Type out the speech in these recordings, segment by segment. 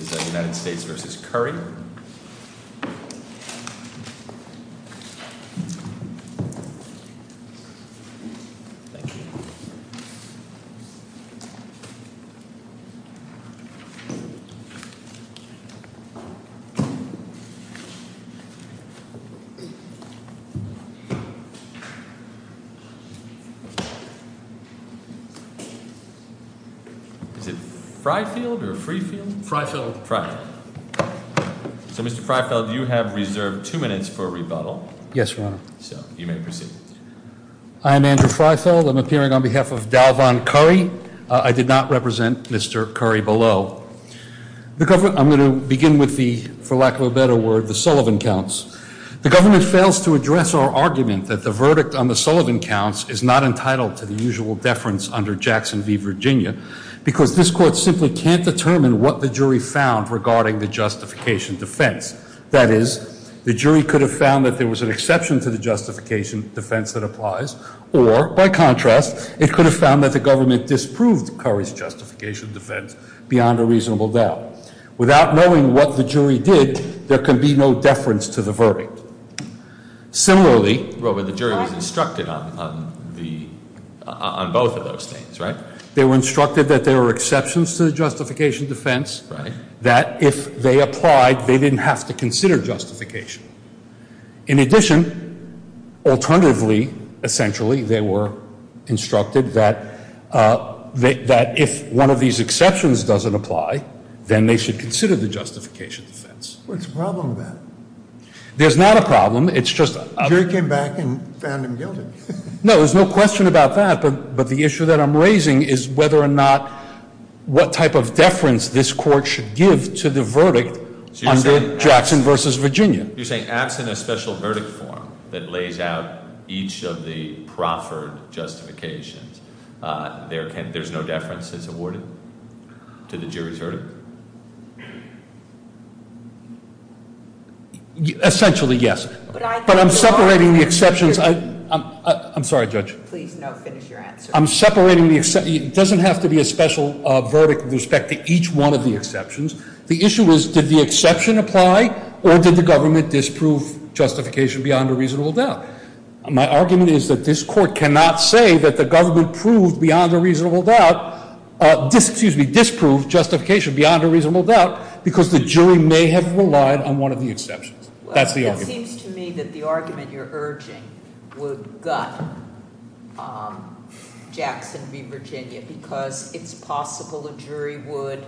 v. United States v. Curry. Thank you. Is it Fryfield or Freefield? Fryfield. So Mr. Fryfield, you have reserved two minutes for a rebuttal. Yes, Your Honor. So you may proceed. I am Andrew Fryfield. I'm appearing on behalf of Dalvon Curry. I did not represent Mr. Curry below. I'm going to begin with the, for lack of a better word, the Sullivan counts. The government fails to address our argument that the verdict on the Sullivan counts is not entitled to the usual deference under Jackson v. Virginia because this Court simply can't determine what the jury found regarding the justification defense. That is, the jury could have found that there was an exception to the justification defense that applies, or, by contrast, it could have found that the government disproved Curry's justification defense beyond a reasonable doubt. Without knowing what the jury did, there can be no deference to the verdict. Similarly, Robert, the jury was instructed on both of those things, right? They were instructed that there were exceptions to the justification defense. Right. That if they applied, they didn't have to consider justification. In addition, alternatively, essentially, they were instructed that if one of these exceptions doesn't apply, then they should consider the justification defense. What's the problem with that? There's not a problem. It's just a — The jury came back and found him guilty. No, there's no question about that, but the issue that I'm raising is whether or not what type of deference this Court should give to the verdict under Jackson v. Virginia. You're saying acts in a special verdict form that lays out each of the proffered justifications, there's no deference that's awarded to the jury's verdict? Essentially, yes. But I'm separating the exceptions. I'm sorry, Judge. Please, no. Finish your answer. I'm separating the — it doesn't have to be a special verdict with respect to each one of the exceptions. The issue is did the exception apply or did the government disprove justification beyond a reasonable doubt? My argument is that this Court cannot say that the government proved beyond a reasonable doubt — excuse me, disproved justification beyond a reasonable doubt because the jury may have relied on one of the exceptions. That's the argument. It seems to me that the argument you're urging would gut Jackson v. Virginia because it's possible a jury would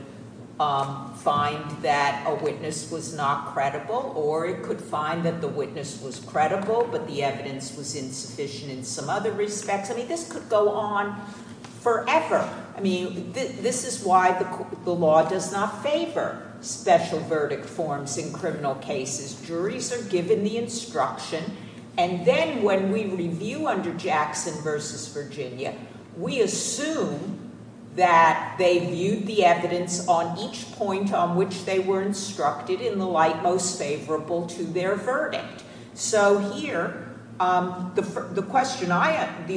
find that a witness was not credible or it could find that the witness was credible but the evidence was insufficient in some other respects. I mean, this could go on forever. I mean, this is why the law does not favor special verdict forms in criminal cases. Juries are given the instruction, and then when we review under Jackson v. Virginia, we assume that they viewed the evidence on each point on which they were instructed in the light most favorable to their verdict. So here, the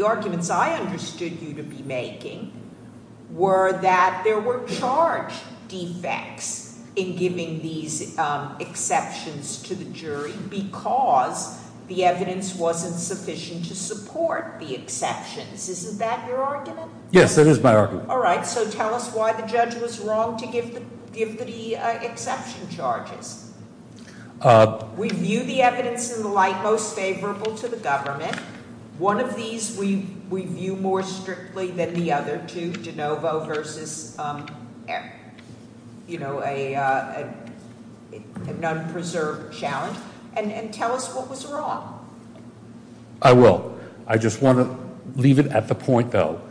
arguments I understood you to be making were that there were charge defects in giving these exceptions to the jury because the evidence wasn't sufficient to support the exceptions. Isn't that your argument? Yes, it is my argument. All right, so tell us why the judge was wrong to give the exception charges. We view the evidence in the light most favorable to the government. One of these we view more strictly than the other two, DeNovo v. Eric, you know, an unpreserved challenge. And tell us what was wrong. I will. I just want to leave it at the point, though.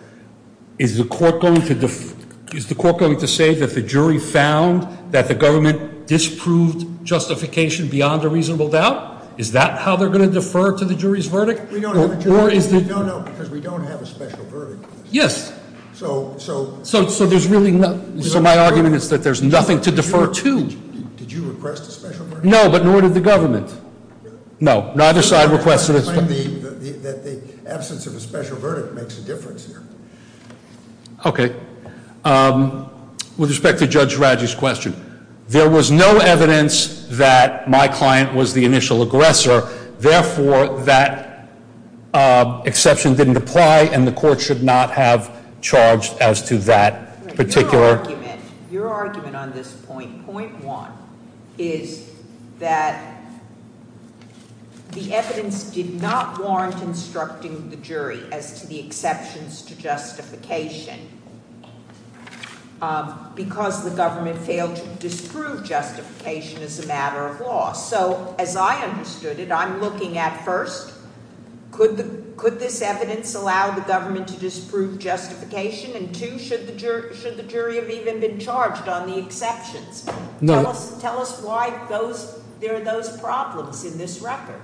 Is the court going to say that the jury found that the government disproved justification beyond a reasonable doubt? Is that how they're going to defer to the jury's verdict? No, no, because we don't have a special verdict. Yes. So my argument is that there's nothing to defer to. Did you request a special verdict? No, but nor did the government. No, neither side requested it. The absence of a special verdict makes a difference here. Okay. With respect to Judge Radji's question, there was no evidence that my client was the initial aggressor. Therefore, that exception didn't apply, and the court should not have charged as to that particular. Your argument on this point, point one, is that the evidence did not warrant instructing the jury as to the exceptions to justification because the government failed to disprove justification as a matter of law. So as I understood it, I'm looking at, first, could this evidence allow the government to disprove justification? And, two, should the jury have even been charged on the exceptions? No. Tell us why there are those problems in this record.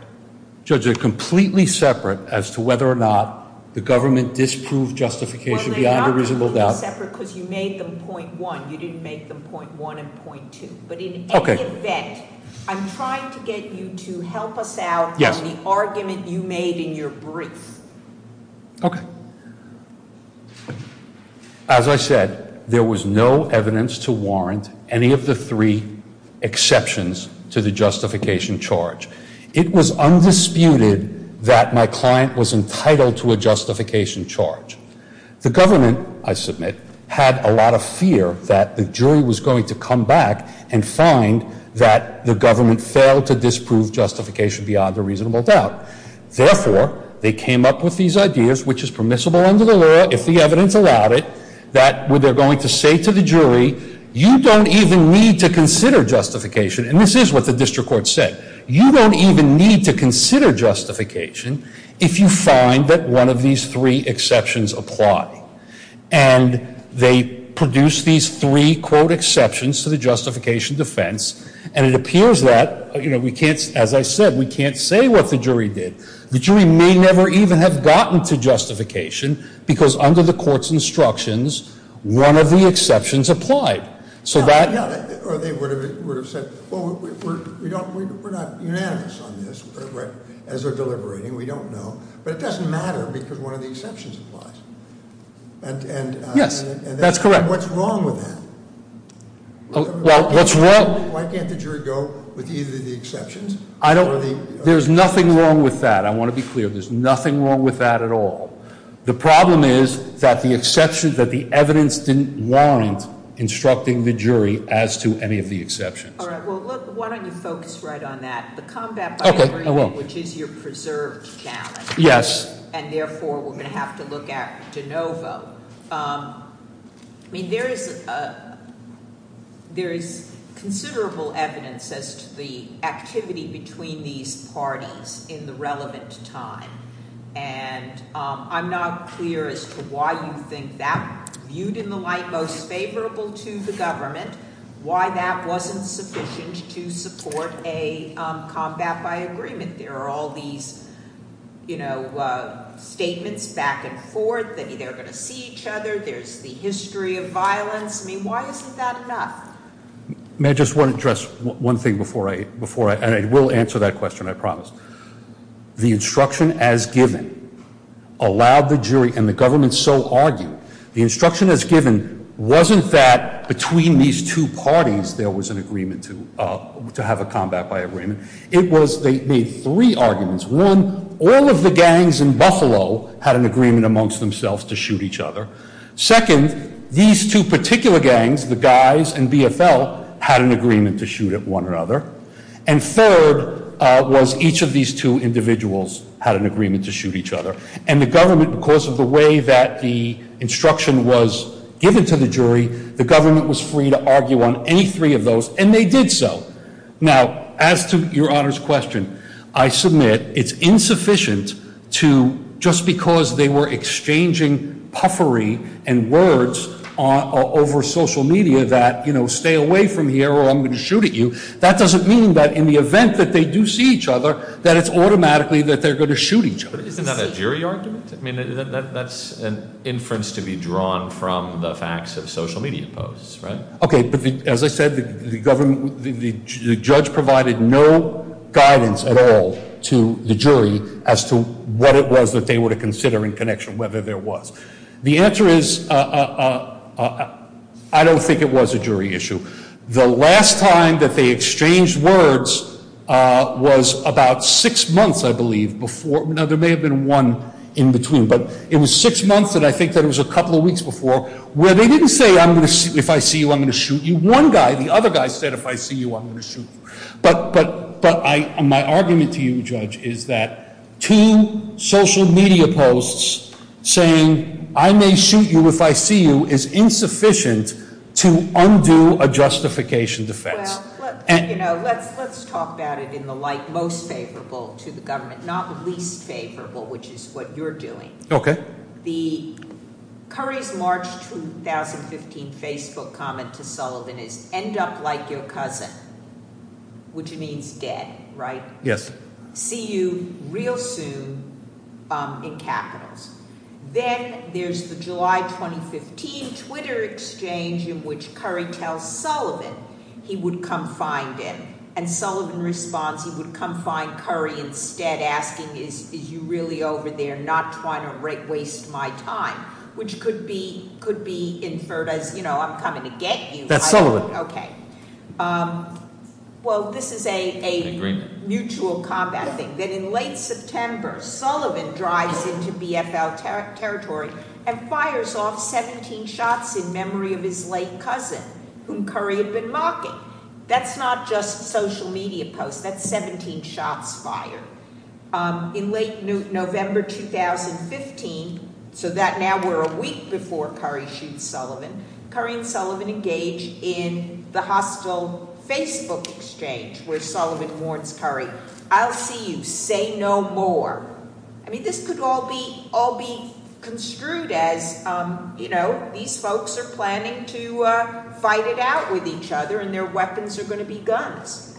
Judge, they're completely separate as to whether or not the government disproved justification beyond a reasonable doubt. Well, they're not completely separate because you made them point one. You didn't make them point one and point two. But in any event, I'm trying to get you to help us out on the argument you made in your brief. Okay. As I said, there was no evidence to warrant any of the three exceptions to the justification charge. It was undisputed that my client was entitled to a justification charge. The government, I submit, had a lot of fear that the jury was going to come back and find that the government failed to disprove justification beyond a reasonable doubt. Therefore, they came up with these ideas, which is permissible under the law if the evidence allowed it, that they're going to say to the jury, you don't even need to consider justification. And this is what the district court said. You don't even need to consider justification if you find that one of these three exceptions apply. And they produced these three, quote, exceptions to the justification defense. And it appears that, you know, we can't, as I said, we can't say what the jury did. The jury may never even have gotten to justification because under the court's instructions, one of the exceptions applied. So that ‑‑ Yeah. Or they would have said, well, we're not unanimous on this. As they're deliberating, we don't know. But it doesn't matter because one of the exceptions applies. And ‑‑ Yes. That's correct. What's wrong with that? Why can't the jury go with either of the exceptions? I don't ‑‑ there's nothing wrong with that. I want to be clear. There's nothing wrong with that at all. The problem is that the exception, that the evidence didn't warrant instructing the jury as to any of the exceptions. All right. Well, look, why don't you focus right on that? The combat binary, which is your preserved balance. Yes. And therefore, we're going to have to look at de novo. I mean, there is considerable evidence as to the activity between these parties in the relevant time. And I'm not clear as to why you think that, viewed in the light most favorable to the government, why that wasn't sufficient to support a combat by agreement. There are all these, you know, statements back and forth. They're going to see each other. There's the history of violence. I mean, why isn't that enough? May I just address one thing before I ‑‑ and I will answer that question, I promise. The instruction as given allowed the jury, and the government so argued, the instruction as given wasn't that between these two parties there was an agreement to have a combat by agreement. It was they made three arguments. One, all of the gangs in Buffalo had an agreement amongst themselves to shoot each other. Second, these two particular gangs, the guys and BFL, had an agreement to shoot at one another. And third was each of these two individuals had an agreement to shoot each other. And the government, because of the way that the instruction was given to the jury, the government was free to argue on any three of those, and they did so. Now, as to Your Honor's question, I submit it's insufficient to just because they were exchanging puffery and words over social media that, you know, stay away from here or I'm going to shoot at you, that doesn't mean that in the event that they do see each other that it's automatically that they're going to shoot each other. Isn't that a jury argument? I mean, that's an inference to be drawn from the facts of social media posts, right? Okay, but as I said, the government, the judge provided no guidance at all to the jury as to what it was that they were to consider in connection whether there was. The answer is I don't think it was a jury issue. The last time that they exchanged words was about six months, I believe, before. Now, there may have been one in between, but it was six months, and I think that it was a couple of weeks before, where they didn't say if I see you, I'm going to shoot you. One guy, the other guy said if I see you, I'm going to shoot you. But my argument to you, Judge, is that two social media posts saying I may shoot you if I see you is insufficient to undo a justification defense. Well, you know, let's talk about it in the light most favorable to the government, not least favorable, which is what you're doing. Okay. Curry's March 2015 Facebook comment to Sullivan is end up like your cousin, which means dead, right? Yes. See you real soon in capitals. Then there's the July 2015 Twitter exchange in which Curry tells Sullivan he would come find him, and Sullivan responds he would come find Curry instead, asking is you really over there not trying to waste my time, which could be inferred as, you know, I'm coming to get you. That's Sullivan. Okay. Well, this is a mutual combat thing. That in late September, Sullivan drives into BFL territory and fires off 17 shots in memory of his late cousin, whom Curry had been mocking. That's not just social media posts. That's 17 shots fired. In late November 2015, so that now we're a week before Curry shoots Sullivan, Curry and Sullivan engage in the hostile Facebook exchange where Sullivan warns Curry, I'll see you. Say no more. I mean, this could all be construed as, you know, these folks are planning to fight it out with each other and their weapons are going to be guns.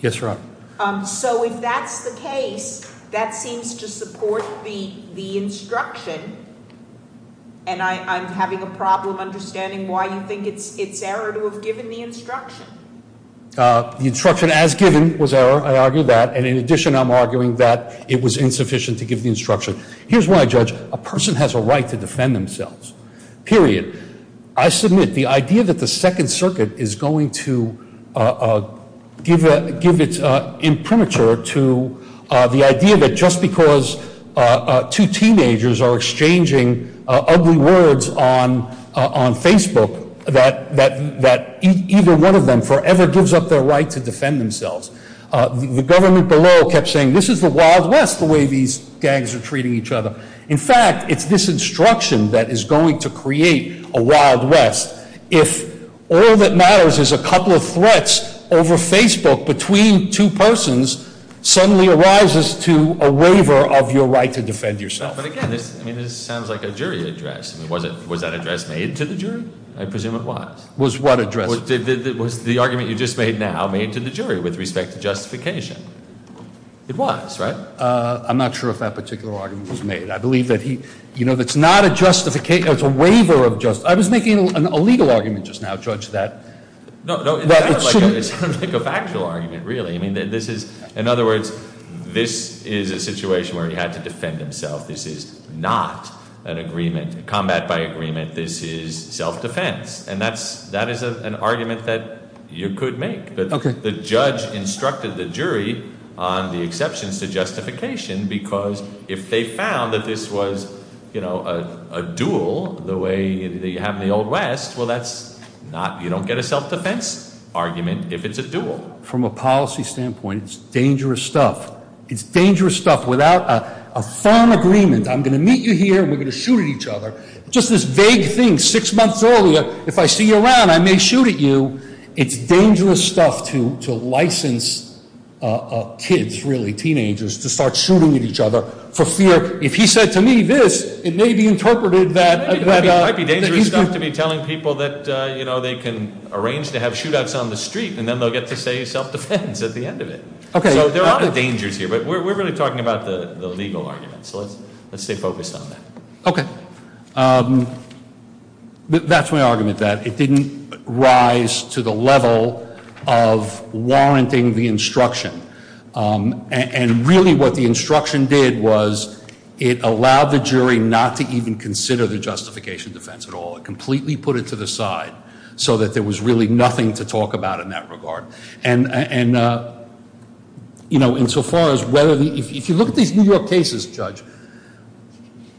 Yes, Your Honor. So if that's the case, that seems to support the instruction, and I'm having a problem understanding why you think it's error to have given the instruction. The instruction as given was error. I argue that. And in addition, I'm arguing that it was insufficient to give the instruction. Here's why, Judge. A person has a right to defend themselves, period. I submit the idea that the Second Circuit is going to give its imprimatur to the idea that just because two teenagers are exchanging ugly words on Facebook, that either one of them forever gives up their right to defend themselves. The government below kept saying, this is the Wild West, the way these gangs are treating each other. In fact, it's this instruction that is going to create a Wild West. If all that matters is a couple of threats over Facebook between two persons, suddenly arises to a waiver of your right to defend yourself. But again, this sounds like a jury address. Was that address made to the jury? I presume it was. Was what address? Was the argument you just made now made to the jury with respect to justification? It was, right? I'm not sure if that particular argument was made. I believe that he, you know, it's not a justification, it's a waiver of justification. I was making a legal argument just now, Judge, that- No, no, it sounded like a factual argument, really. I mean, this is, in other words, this is a situation where he had to defend himself. This is not an agreement, combat by agreement. This is self-defense. And that is an argument that you could make. Okay. But the judge instructed the jury on the exceptions to justification because if they found that this was, you know, a duel the way they have in the Old West, well, that's not-you don't get a self-defense argument if it's a duel. From a policy standpoint, it's dangerous stuff. It's dangerous stuff without a firm agreement. I'm going to meet you here and we're going to shoot at each other. Just this vague thing six months earlier, if I see you around, I may shoot at you. It's dangerous stuff to license kids, really teenagers, to start shooting at each other for fear. If he said to me this, it may be interpreted that- It might be dangerous stuff to be telling people that, you know, they can arrange to have shootouts on the street and then they'll get to say self-defense at the end of it. Okay. So there are dangers here, but we're really talking about the legal argument. So let's stay focused on that. Okay. That's my argument, that it didn't rise to the level of warranting the instruction. And really what the instruction did was it allowed the jury not to even consider the justification defense at all. It completely put it to the side so that there was really nothing to talk about in that regard. And, you know, insofar as whether-if you look at these New York cases, Judge,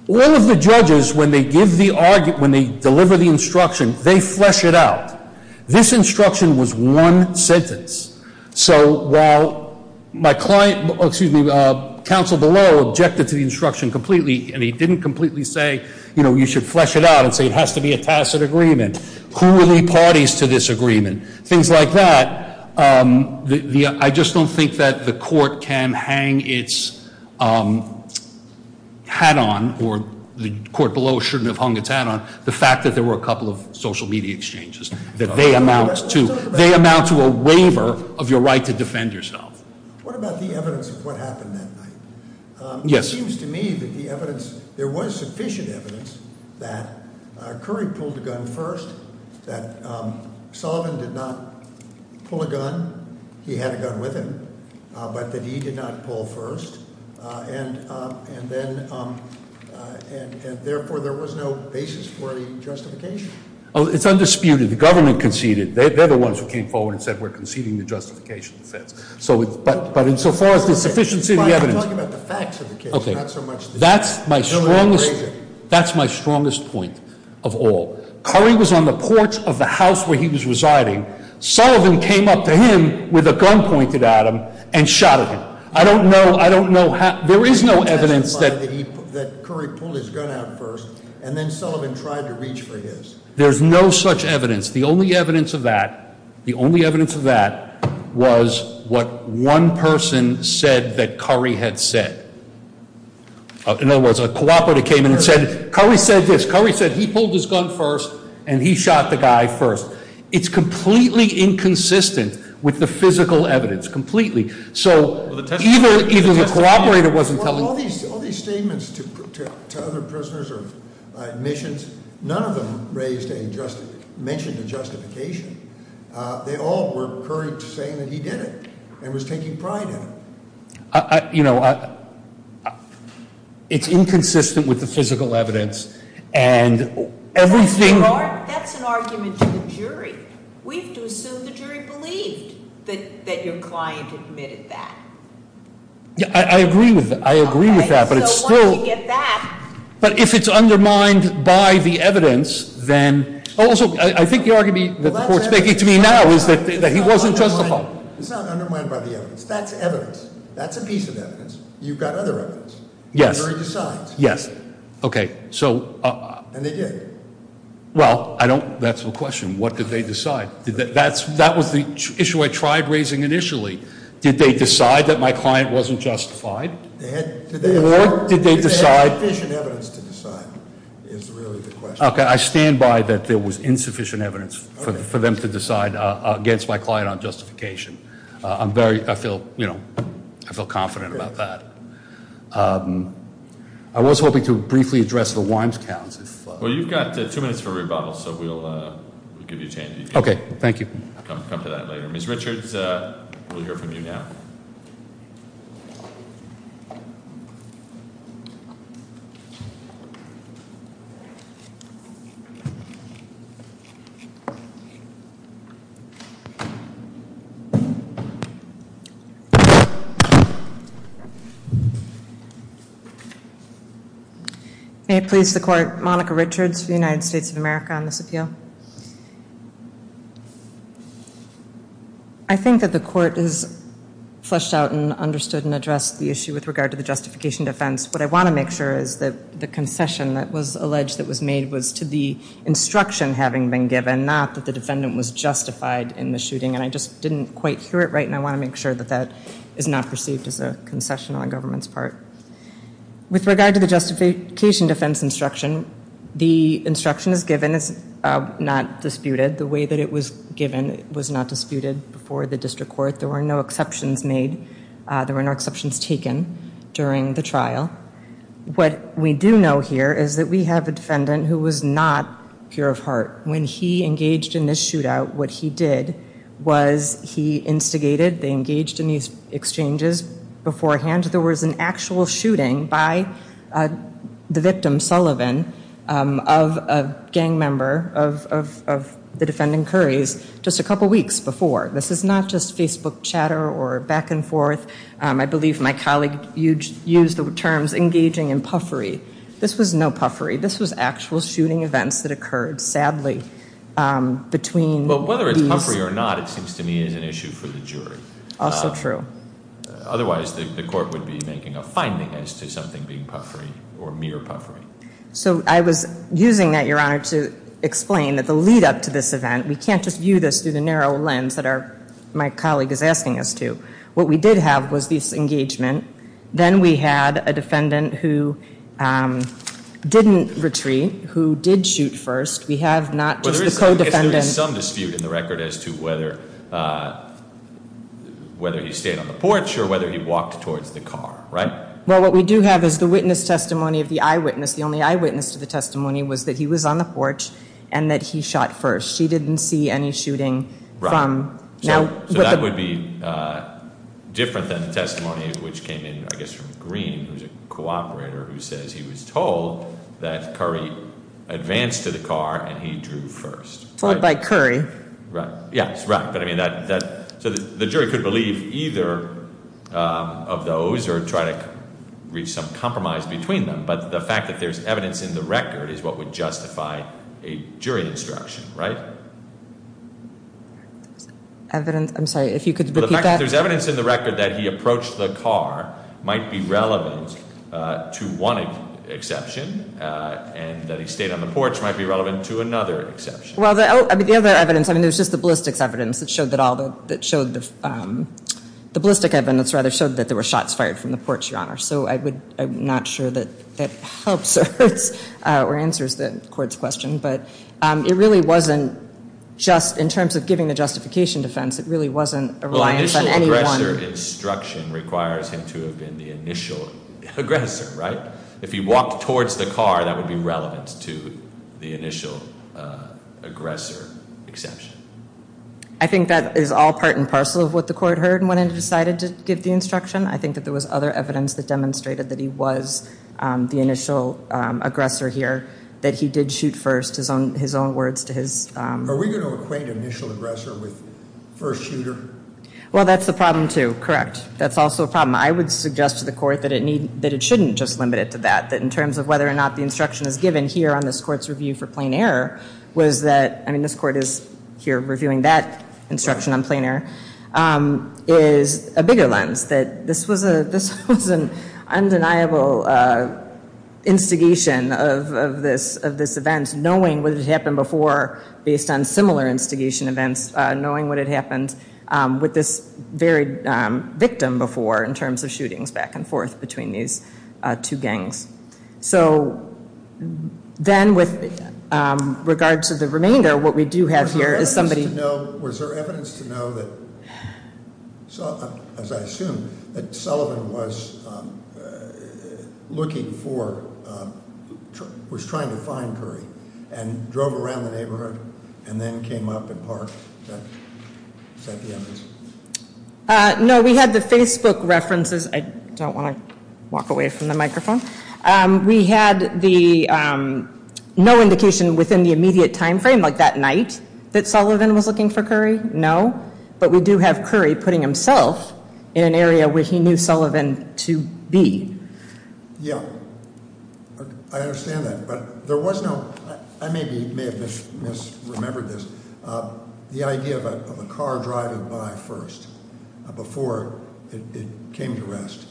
all of the judges, when they give the argument, when they deliver the instruction, they flesh it out. This instruction was one sentence. So while my client-excuse me, counsel below objected to the instruction completely, and he didn't completely say, you know, you should flesh it out and say it has to be a tacit agreement, who will leave parties to this agreement, things like that, I just don't think that the court can hang its hat on, or the court below shouldn't have hung its hat on, the fact that there were a couple of social media exchanges, that they amount to a waiver of your right to defend yourself. What about the evidence of what happened that night? Yes. It seems to me that the evidence-there was sufficient evidence that Curry pulled the gun first, that Sullivan did not pull a gun, he had a gun with him, but that he did not pull first, and therefore there was no basis for any justification. Oh, it's undisputed. The government conceded. They're the ones who came forward and said we're conceding the justification defense. But insofar as there's sufficiency in the evidence- I'm talking about the facts of the case, not so much the- Okay. That's my strongest point of all. Curry was on the porch of the house where he was residing. Sullivan came up to him with a gun pointed at him and shot at him. I don't know how- There is no evidence that Curry pulled his gun out first, and then Sullivan tried to reach for his. There's no such evidence. The only evidence of that, the only evidence of that was what one person said that Curry had said. In other words, a cooperator came in and said, Curry said this. Curry said he pulled his gun first, and he shot the guy first. It's completely inconsistent with the physical evidence, completely. So even the cooperator wasn't telling- Well, all these statements to other prisoners or admissions, none of them mentioned a justification. They all were Curry saying that he did it and was taking pride in it. It's inconsistent with the physical evidence, and everything- That's an argument to the jury. We have to assume the jury believed that your client admitted that. I agree with that, but it's still- So once you get that- But if it's undermined by the evidence, then- Also, I think the argument that the court's making to me now is that he wasn't justified. It's not undermined by the evidence. That's evidence. That's a piece of evidence. You've got other evidence. Yes. The jury decides. Yes. Okay, so- And they did. Well, I don't- That's the question. What did they decide? That was the issue I tried raising initially. Did they decide that my client wasn't justified? Or did they decide- They had sufficient evidence to decide is really the question. Okay, I stand by that there was insufficient evidence for them to decide against my client on justification. I feel confident about that. I was hoping to briefly address the wines counts. Well, you've got two minutes for rebuttal, so we'll give you a chance. Okay, thank you. We'll come to that later. Ms. Richards, we'll hear from you now. May it please the court. Monica Richards for the United States of America on this appeal. I think that the court has fleshed out and understood and addressed the issue with regard to the justification defense. What I want to make sure is that the concession that was alleged that was made was to the instruction having been given, not that the defendant was justified in the shooting, and I just didn't quite hear it right, and I want to make sure that that is not perceived as a concession on government's part. With regard to the justification defense instruction, the instruction as given is not disputed. The way that it was given was not disputed before the district court. There were no exceptions made. There were no exceptions taken during the trial. What we do know here is that we have a defendant who was not pure of heart. When he engaged in this shootout, what he did was he instigated. They engaged in these exchanges beforehand. There was an actual shooting by the victim, Sullivan, of a gang member of the defendant, Currys, just a couple weeks before. This is not just Facebook chatter or back and forth. I believe my colleague used the terms engaging in puffery. This was no puffery. This was actual shooting events that occurred, sadly, between these. Well, whether it's puffery or not, it seems to me is an issue for the jury. Also true. Otherwise, the court would be making a finding as to something being puffery or mere puffery. So I was using that, Your Honor, to explain that the lead-up to this event, we can't just view this through the narrow lens that my colleague is asking us to. What we did have was this engagement. Then we had a defendant who didn't retreat, who did shoot first. We have not just the co-defendant. I guess there is some dispute in the record as to whether he stayed on the porch or whether he walked towards the car, right? Well, what we do have is the witness testimony of the eyewitness. The only eyewitness to the testimony was that he was on the porch and that he shot first. She didn't see any shooting from now. So that would be different than the testimony which came in, I guess, from Green, who is a cooperator, who says he was told that Curry advanced to the car and he drew first. Told by Curry. Yes, right. So the jury could believe either of those or try to reach some compromise between them. But the fact that there is evidence in the record is what would justify a jury instruction, right? Evidence? I'm sorry, if you could repeat that? The fact that there is evidence in the record that he approached the car might be relevant to one exception and that he stayed on the porch might be relevant to another exception. Well, the other evidence, I mean, it was just the ballistics evidence that showed that all the, that showed the, the ballistic evidence rather showed that there were shots fired from the porch, Your Honor. So I would, I'm not sure that that helps or answers the court's question, but it really wasn't just in terms of giving the justification defense. It really wasn't a reliance on anyone. Well, initial aggressor instruction requires him to have been the initial aggressor, right? If he walked towards the car, that would be relevant to the initial aggressor exception. I think that is all part and parcel of what the court heard when it decided to give the instruction. I think that there was other evidence that demonstrated that he was the initial aggressor here, that he did shoot first, his own words to his. Are we going to equate initial aggressor with first shooter? Well, that's the problem, too. Correct. That's also a problem. I would suggest to the court that it need, that it shouldn't just limit it to that, that in terms of whether or not the instruction is given here on this court's review for plain error was that, I mean, this court is here reviewing that instruction on plain error, is a bigger lens that this was an undeniable instigation of this event, knowing what had happened before based on similar instigation events, knowing what had happened with this very victim before in terms of shootings back and forth between these two gangs. So then with regard to the remainder, what we do have here is somebody. Was there evidence to know that, as I assume, that Sullivan was looking for, was trying to find Curry, and drove around the neighborhood and then came up and parked at the evidence? No. We had the Facebook references. I don't want to walk away from the microphone. We had the no indication within the immediate time frame, like that night, that Sullivan was looking for Curry. No. But we do have Curry putting himself in an area where he knew Sullivan to be. Yeah. I understand that. But there was no, I maybe may have misremembered this, the idea of a car driving by first before it came to rest.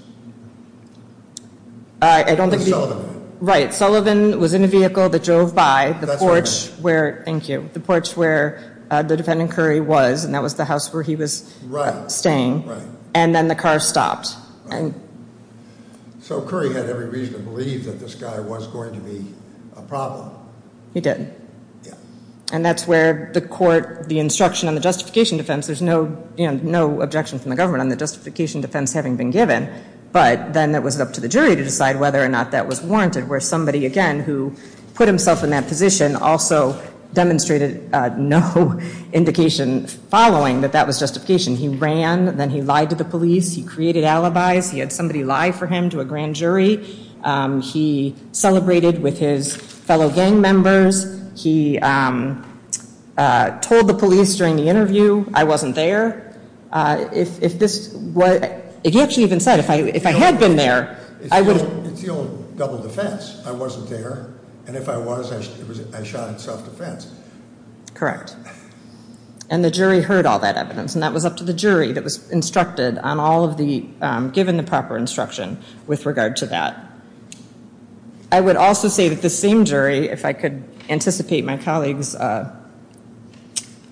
I don't think. Or Sullivan. Right. Sullivan was in a vehicle that drove by. That's right. The porch where, thank you, the porch where the defendant Curry was, and that was the house where he was staying. Right. And then the car stopped. So Curry had every reason to believe that this guy was going to be a problem. He did. Yeah. And that's where the court, the instruction on the justification defense, there's no, you know, no objection from the government on the justification defense having been given. But then it was up to the jury to decide whether or not that was warranted where somebody, again, who put himself in that position also demonstrated no indication following that that was justification. He ran. Then he lied to the police. He created alibis. He had somebody lie for him to a grand jury. He celebrated with his fellow gang members. He told the police during the interview I wasn't there. If this was, he actually even said if I had been there, I would have. It's the old double defense. I wasn't there. And if I was, I shot in self-defense. Correct. And the jury heard all that evidence. And that was up to the jury that was instructed on all of the, given the proper instruction with regard to that. I would also say that the same jury, if I could anticipate my colleague's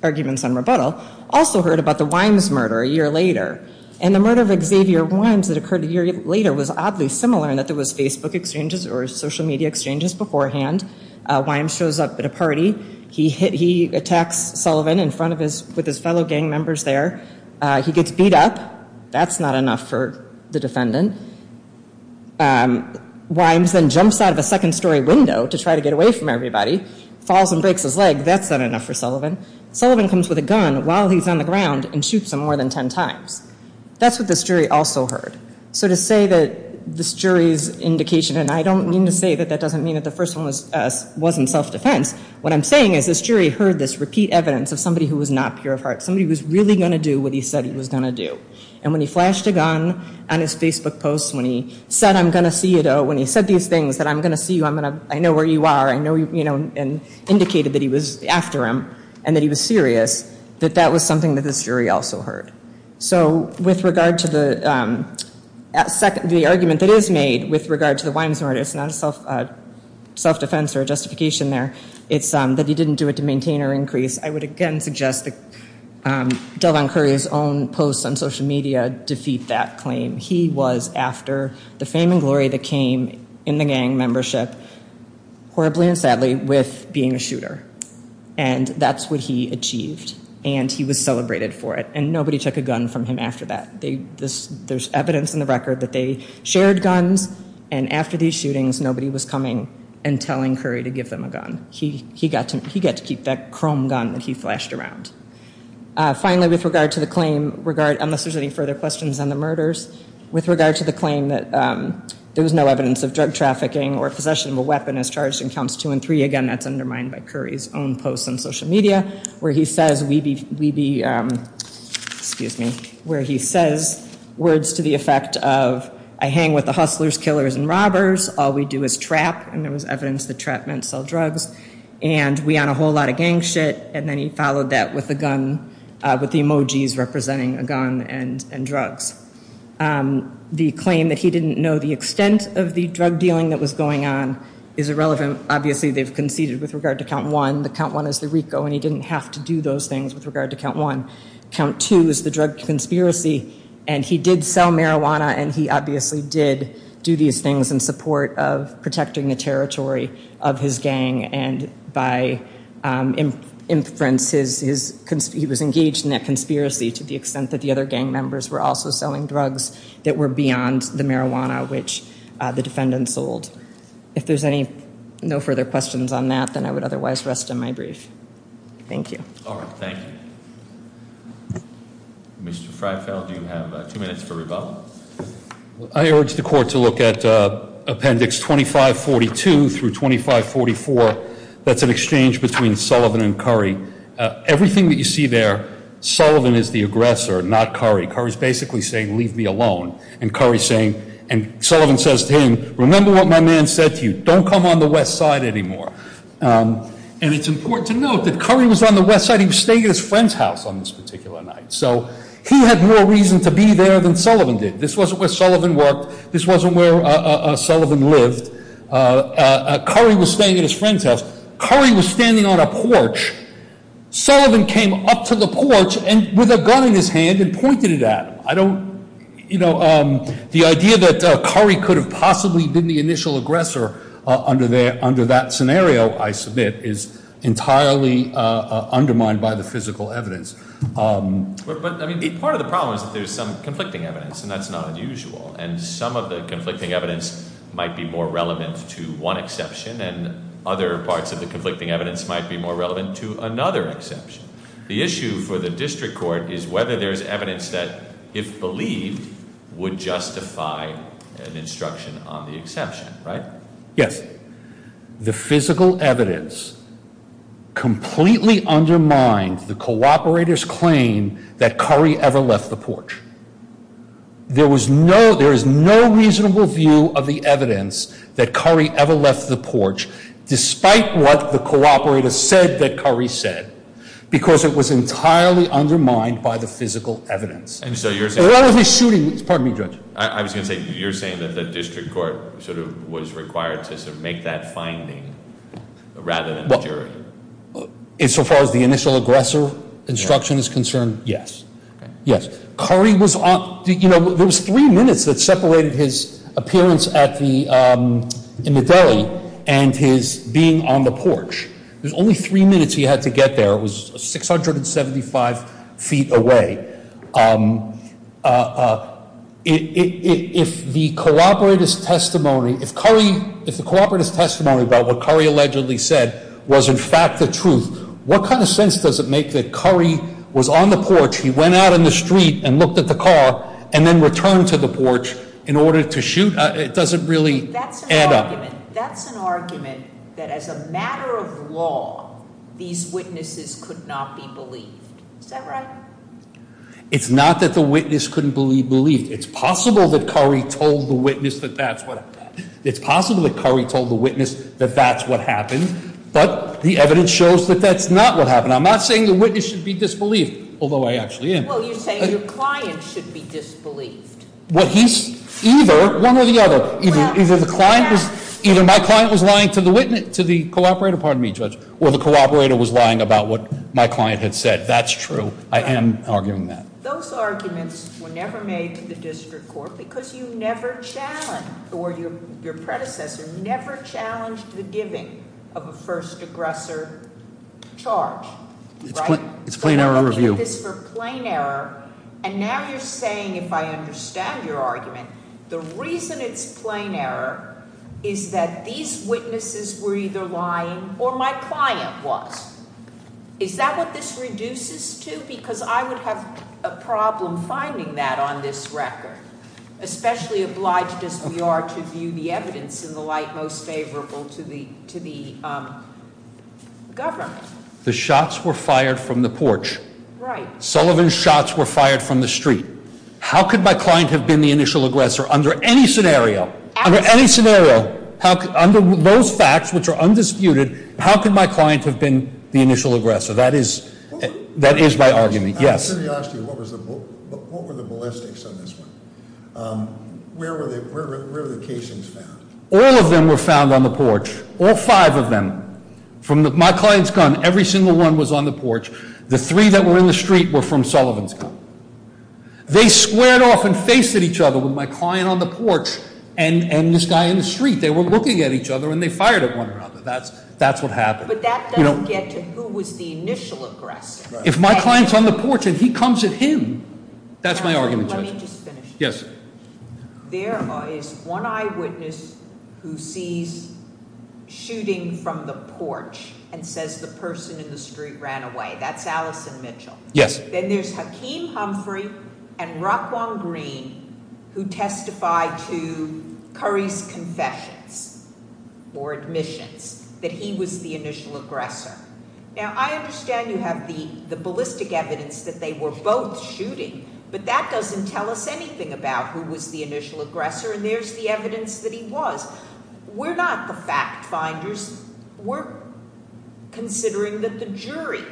arguments on rebuttal, also heard about the Wimes murder a year later. And the murder of Xavier Wimes that occurred a year later was oddly similar in that there was Facebook exchanges or social media exchanges beforehand. Wimes shows up at a party. He attacks Sullivan in front of his, with his fellow gang members there. He gets beat up. That's not enough for the defendant. Wimes then jumps out of a second story window to try to get away from everybody. Falls and breaks his leg. That's not enough for Sullivan. Sullivan comes with a gun while he's on the ground and shoots him more than ten times. That's what this jury also heard. So to say that this jury's indication, and I don't mean to say that that doesn't mean that the first one wasn't self-defense. What I'm saying is this jury heard this repeat evidence of somebody who was not pure of heart, somebody who was really going to do what he said he was going to do. And when he flashed a gun on his Facebook posts, when he said I'm going to see you, when he said these things that I'm going to see you, I'm going to, I know where you are, I know, you know, and indicated that he was after him and that he was serious, that that was something that this jury also heard. So with regard to the argument that is made with regard to the Wimes murder, it's not a self-defense or a justification there. It's that he didn't do it to maintain or increase. I would again suggest that Delvon Curry's own posts on social media defeat that claim. He was after the fame and glory that came in the gang membership, horribly and sadly, with being a shooter. And that's what he achieved. And he was celebrated for it. And nobody took a gun from him after that. There's evidence in the record that they shared guns, and after these shootings nobody was coming and telling Curry to give them a gun. He got to keep that chrome gun that he flashed around. Finally, with regard to the claim, unless there's any further questions on the murders, with regard to the claim that there was no evidence of drug trafficking or possession of a weapon as charged in Counts 2 and 3, again that's undermined by Curry's own posts on social media, where he says words to the effect of, I hang with the hustlers, killers, and robbers. All we do is trap. And there was evidence that trap meant sell drugs. And we on a whole lot of gang shit. And then he followed that with a gun, with the emojis representing a gun and drugs. The claim that he didn't know the extent of the drug dealing that was going on is irrelevant. Obviously they've conceded with regard to Count 1. The Count 1 is the RICO, and he didn't have to do those things with regard to Count 1. Count 2 is the drug conspiracy. And he did sell marijuana, and he obviously did do these things in support of protecting the territory of his gang. And by inference, he was engaged in that conspiracy to the extent that the other gang members were also selling drugs that were beyond the marijuana which the defendant sold. If there's no further questions on that, then I would otherwise rest in my brief. Thank you. All right, thank you. Mr. Freifeld, you have two minutes for rebuttal. I urge the court to look at Appendix 2542 through 2544. That's an exchange between Sullivan and Curry. Everything that you see there, Sullivan is the aggressor, not Curry. Curry's basically saying, leave me alone. And Curry's saying, and Sullivan says to him, remember what my man said to you. Don't come on the west side anymore. And it's important to note that Curry was on the west side. He was staying at his friend's house on this particular night. So he had more reason to be there than Sullivan did. This wasn't where Sullivan worked. This wasn't where Sullivan lived. Curry was staying at his friend's house. Curry was standing on a porch. Sullivan came up to the porch with a gun in his hand and pointed it at him. The idea that Curry could have possibly been the initial aggressor under that scenario, I submit, is entirely undermined by the physical evidence. But part of the problem is that there's some conflicting evidence, and that's not unusual. And some of the conflicting evidence might be more relevant to one exception, and other parts of the conflicting evidence might be more relevant to another exception. The issue for the district court is whether there's evidence that, if believed, would justify an instruction on the exception, right? Yes. The physical evidence completely undermined the cooperator's claim that Curry ever left the porch. There is no reasonable view of the evidence that Curry ever left the porch, despite what the cooperator said that Curry said, because it was entirely undermined by the physical evidence. And so you're saying that the district court sort of was required to make that finding rather than the jury? Insofar as the initial aggressor instruction is concerned, yes. Yes. There was three minutes that separated his appearance in the deli and his being on the porch. There's only three minutes he had to get there. It was 675 feet away. If the cooperator's testimony about what Curry allegedly said was, in fact, the truth, what kind of sense does it make that Curry was on the porch, he went out on the street and looked at the car and then returned to the porch in order to shoot? It doesn't really add up. That's an argument that, as a matter of law, these witnesses could not be believed. Is that right? It's not that the witness couldn't be believed. It's possible that Curry told the witness that that's what happened. But the evidence shows that that's not what happened. I'm not saying the witness should be disbelieved, although I actually am. Well, you're saying your client should be disbelieved. Either one or the other. Either my client was lying to the cooperator, or the cooperator was lying about what my client had said. That's true. I am arguing that. Those arguments were never made to the district court because you never challenged or your predecessor never challenged the giving of a first aggressor charge. It's plain error review. And now you're saying, if I understand your argument, the reason it's plain error is that these witnesses were either lying or my client was. Is that what this reduces to? Because I would have a problem finding that on this record. Especially obliged as we are to view the evidence in the light most favorable to the government. The shots were fired from the porch. Sullivan's shots were fired from the street. How could my client have been the initial aggressor under any scenario? Under any scenario. Under those facts, which are undisputed, how could my client have been the initial aggressor? That is my argument. Yes. To be honest with you, what were the ballistics on this one? Where were the casings found? All of them were found on the porch. All five of them. From my client's gun, every single one was on the porch. The three that were in the street were from Sullivan's gun. They squared off and faced at each other with my client on the porch and this guy in the street. They were looking at each other and they fired at one another. That's what happened. But that doesn't get to who was the initial aggressor. If my client's on the porch and he comes at him, that's my argument, Judge. Let me just finish. Yes. There is one eyewitness who sees shooting from the porch and says the person in the street ran away. That's Allison Mitchell. Yes. Then there's Hakeem Humphrey and Rock Wong Green who testify to Curry's confessions or admissions that he was the initial aggressor. Now, I understand you have the ballistic evidence that they were both shooting, but that doesn't tell us anything about who was the initial aggressor. And there's the evidence that he was. We're not the fact finders. We're considering that the jury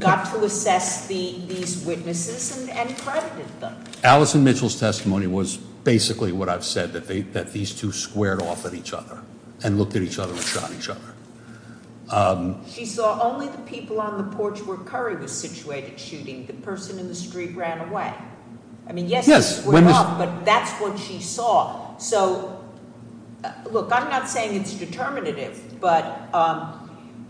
got to assess these witnesses and credited them. Allison Mitchell's testimony was basically what I've said, that these two squared off at each other and looked at each other and shot each other. She saw only the people on the porch where Curry was situated shooting. The person in the street ran away. I mean, yes, they squared off, but that's what she saw. So, look, I'm not saying it's determinative, but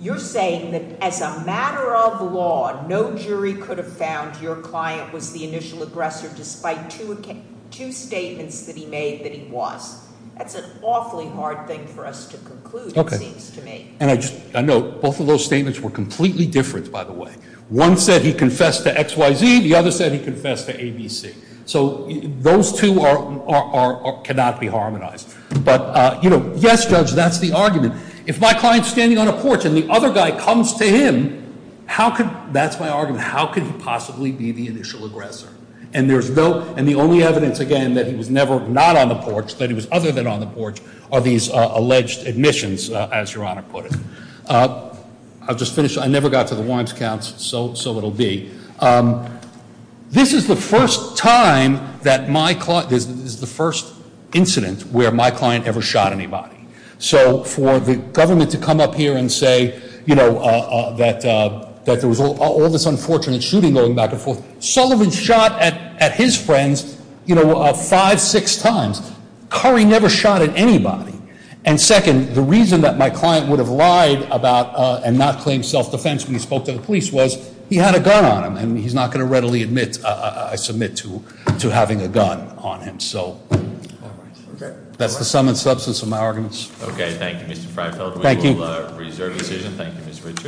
you're saying that as a matter of law, no jury could have found your client was the initial aggressor despite two statements that he made that he was. That's an awfully hard thing for us to conclude, it seems to me. Okay. And I know both of those statements were completely different, by the way. One said he confessed to XYZ. The other said he confessed to ABC. So those two cannot be harmonized. But, you know, yes, Judge, that's the argument. If my client's standing on a porch and the other guy comes to him, that's my argument. How could he possibly be the initial aggressor? And the only evidence, again, that he was never not on the porch, that he was other than on the porch, are these alleged admissions, as Your Honor put it. I'll just finish. I never got to the warrants counts, so it'll be. This is the first time that my client, this is the first incident where my client ever shot anybody. So for the government to come up here and say, you know, that there was all this unfortunate shooting going back and forth. Sullivan shot at his friends, you know, five, six times. Curry never shot at anybody. And second, the reason that my client would have lied about and not claim self-defense when he spoke to the police was he had a gun on him. And he's not going to readily admit, I submit, to having a gun on him. So that's the sum and substance of my arguments. Okay, thank you, Mr. Freifeld. We will reserve the decision. Thank you, Mr. Richard.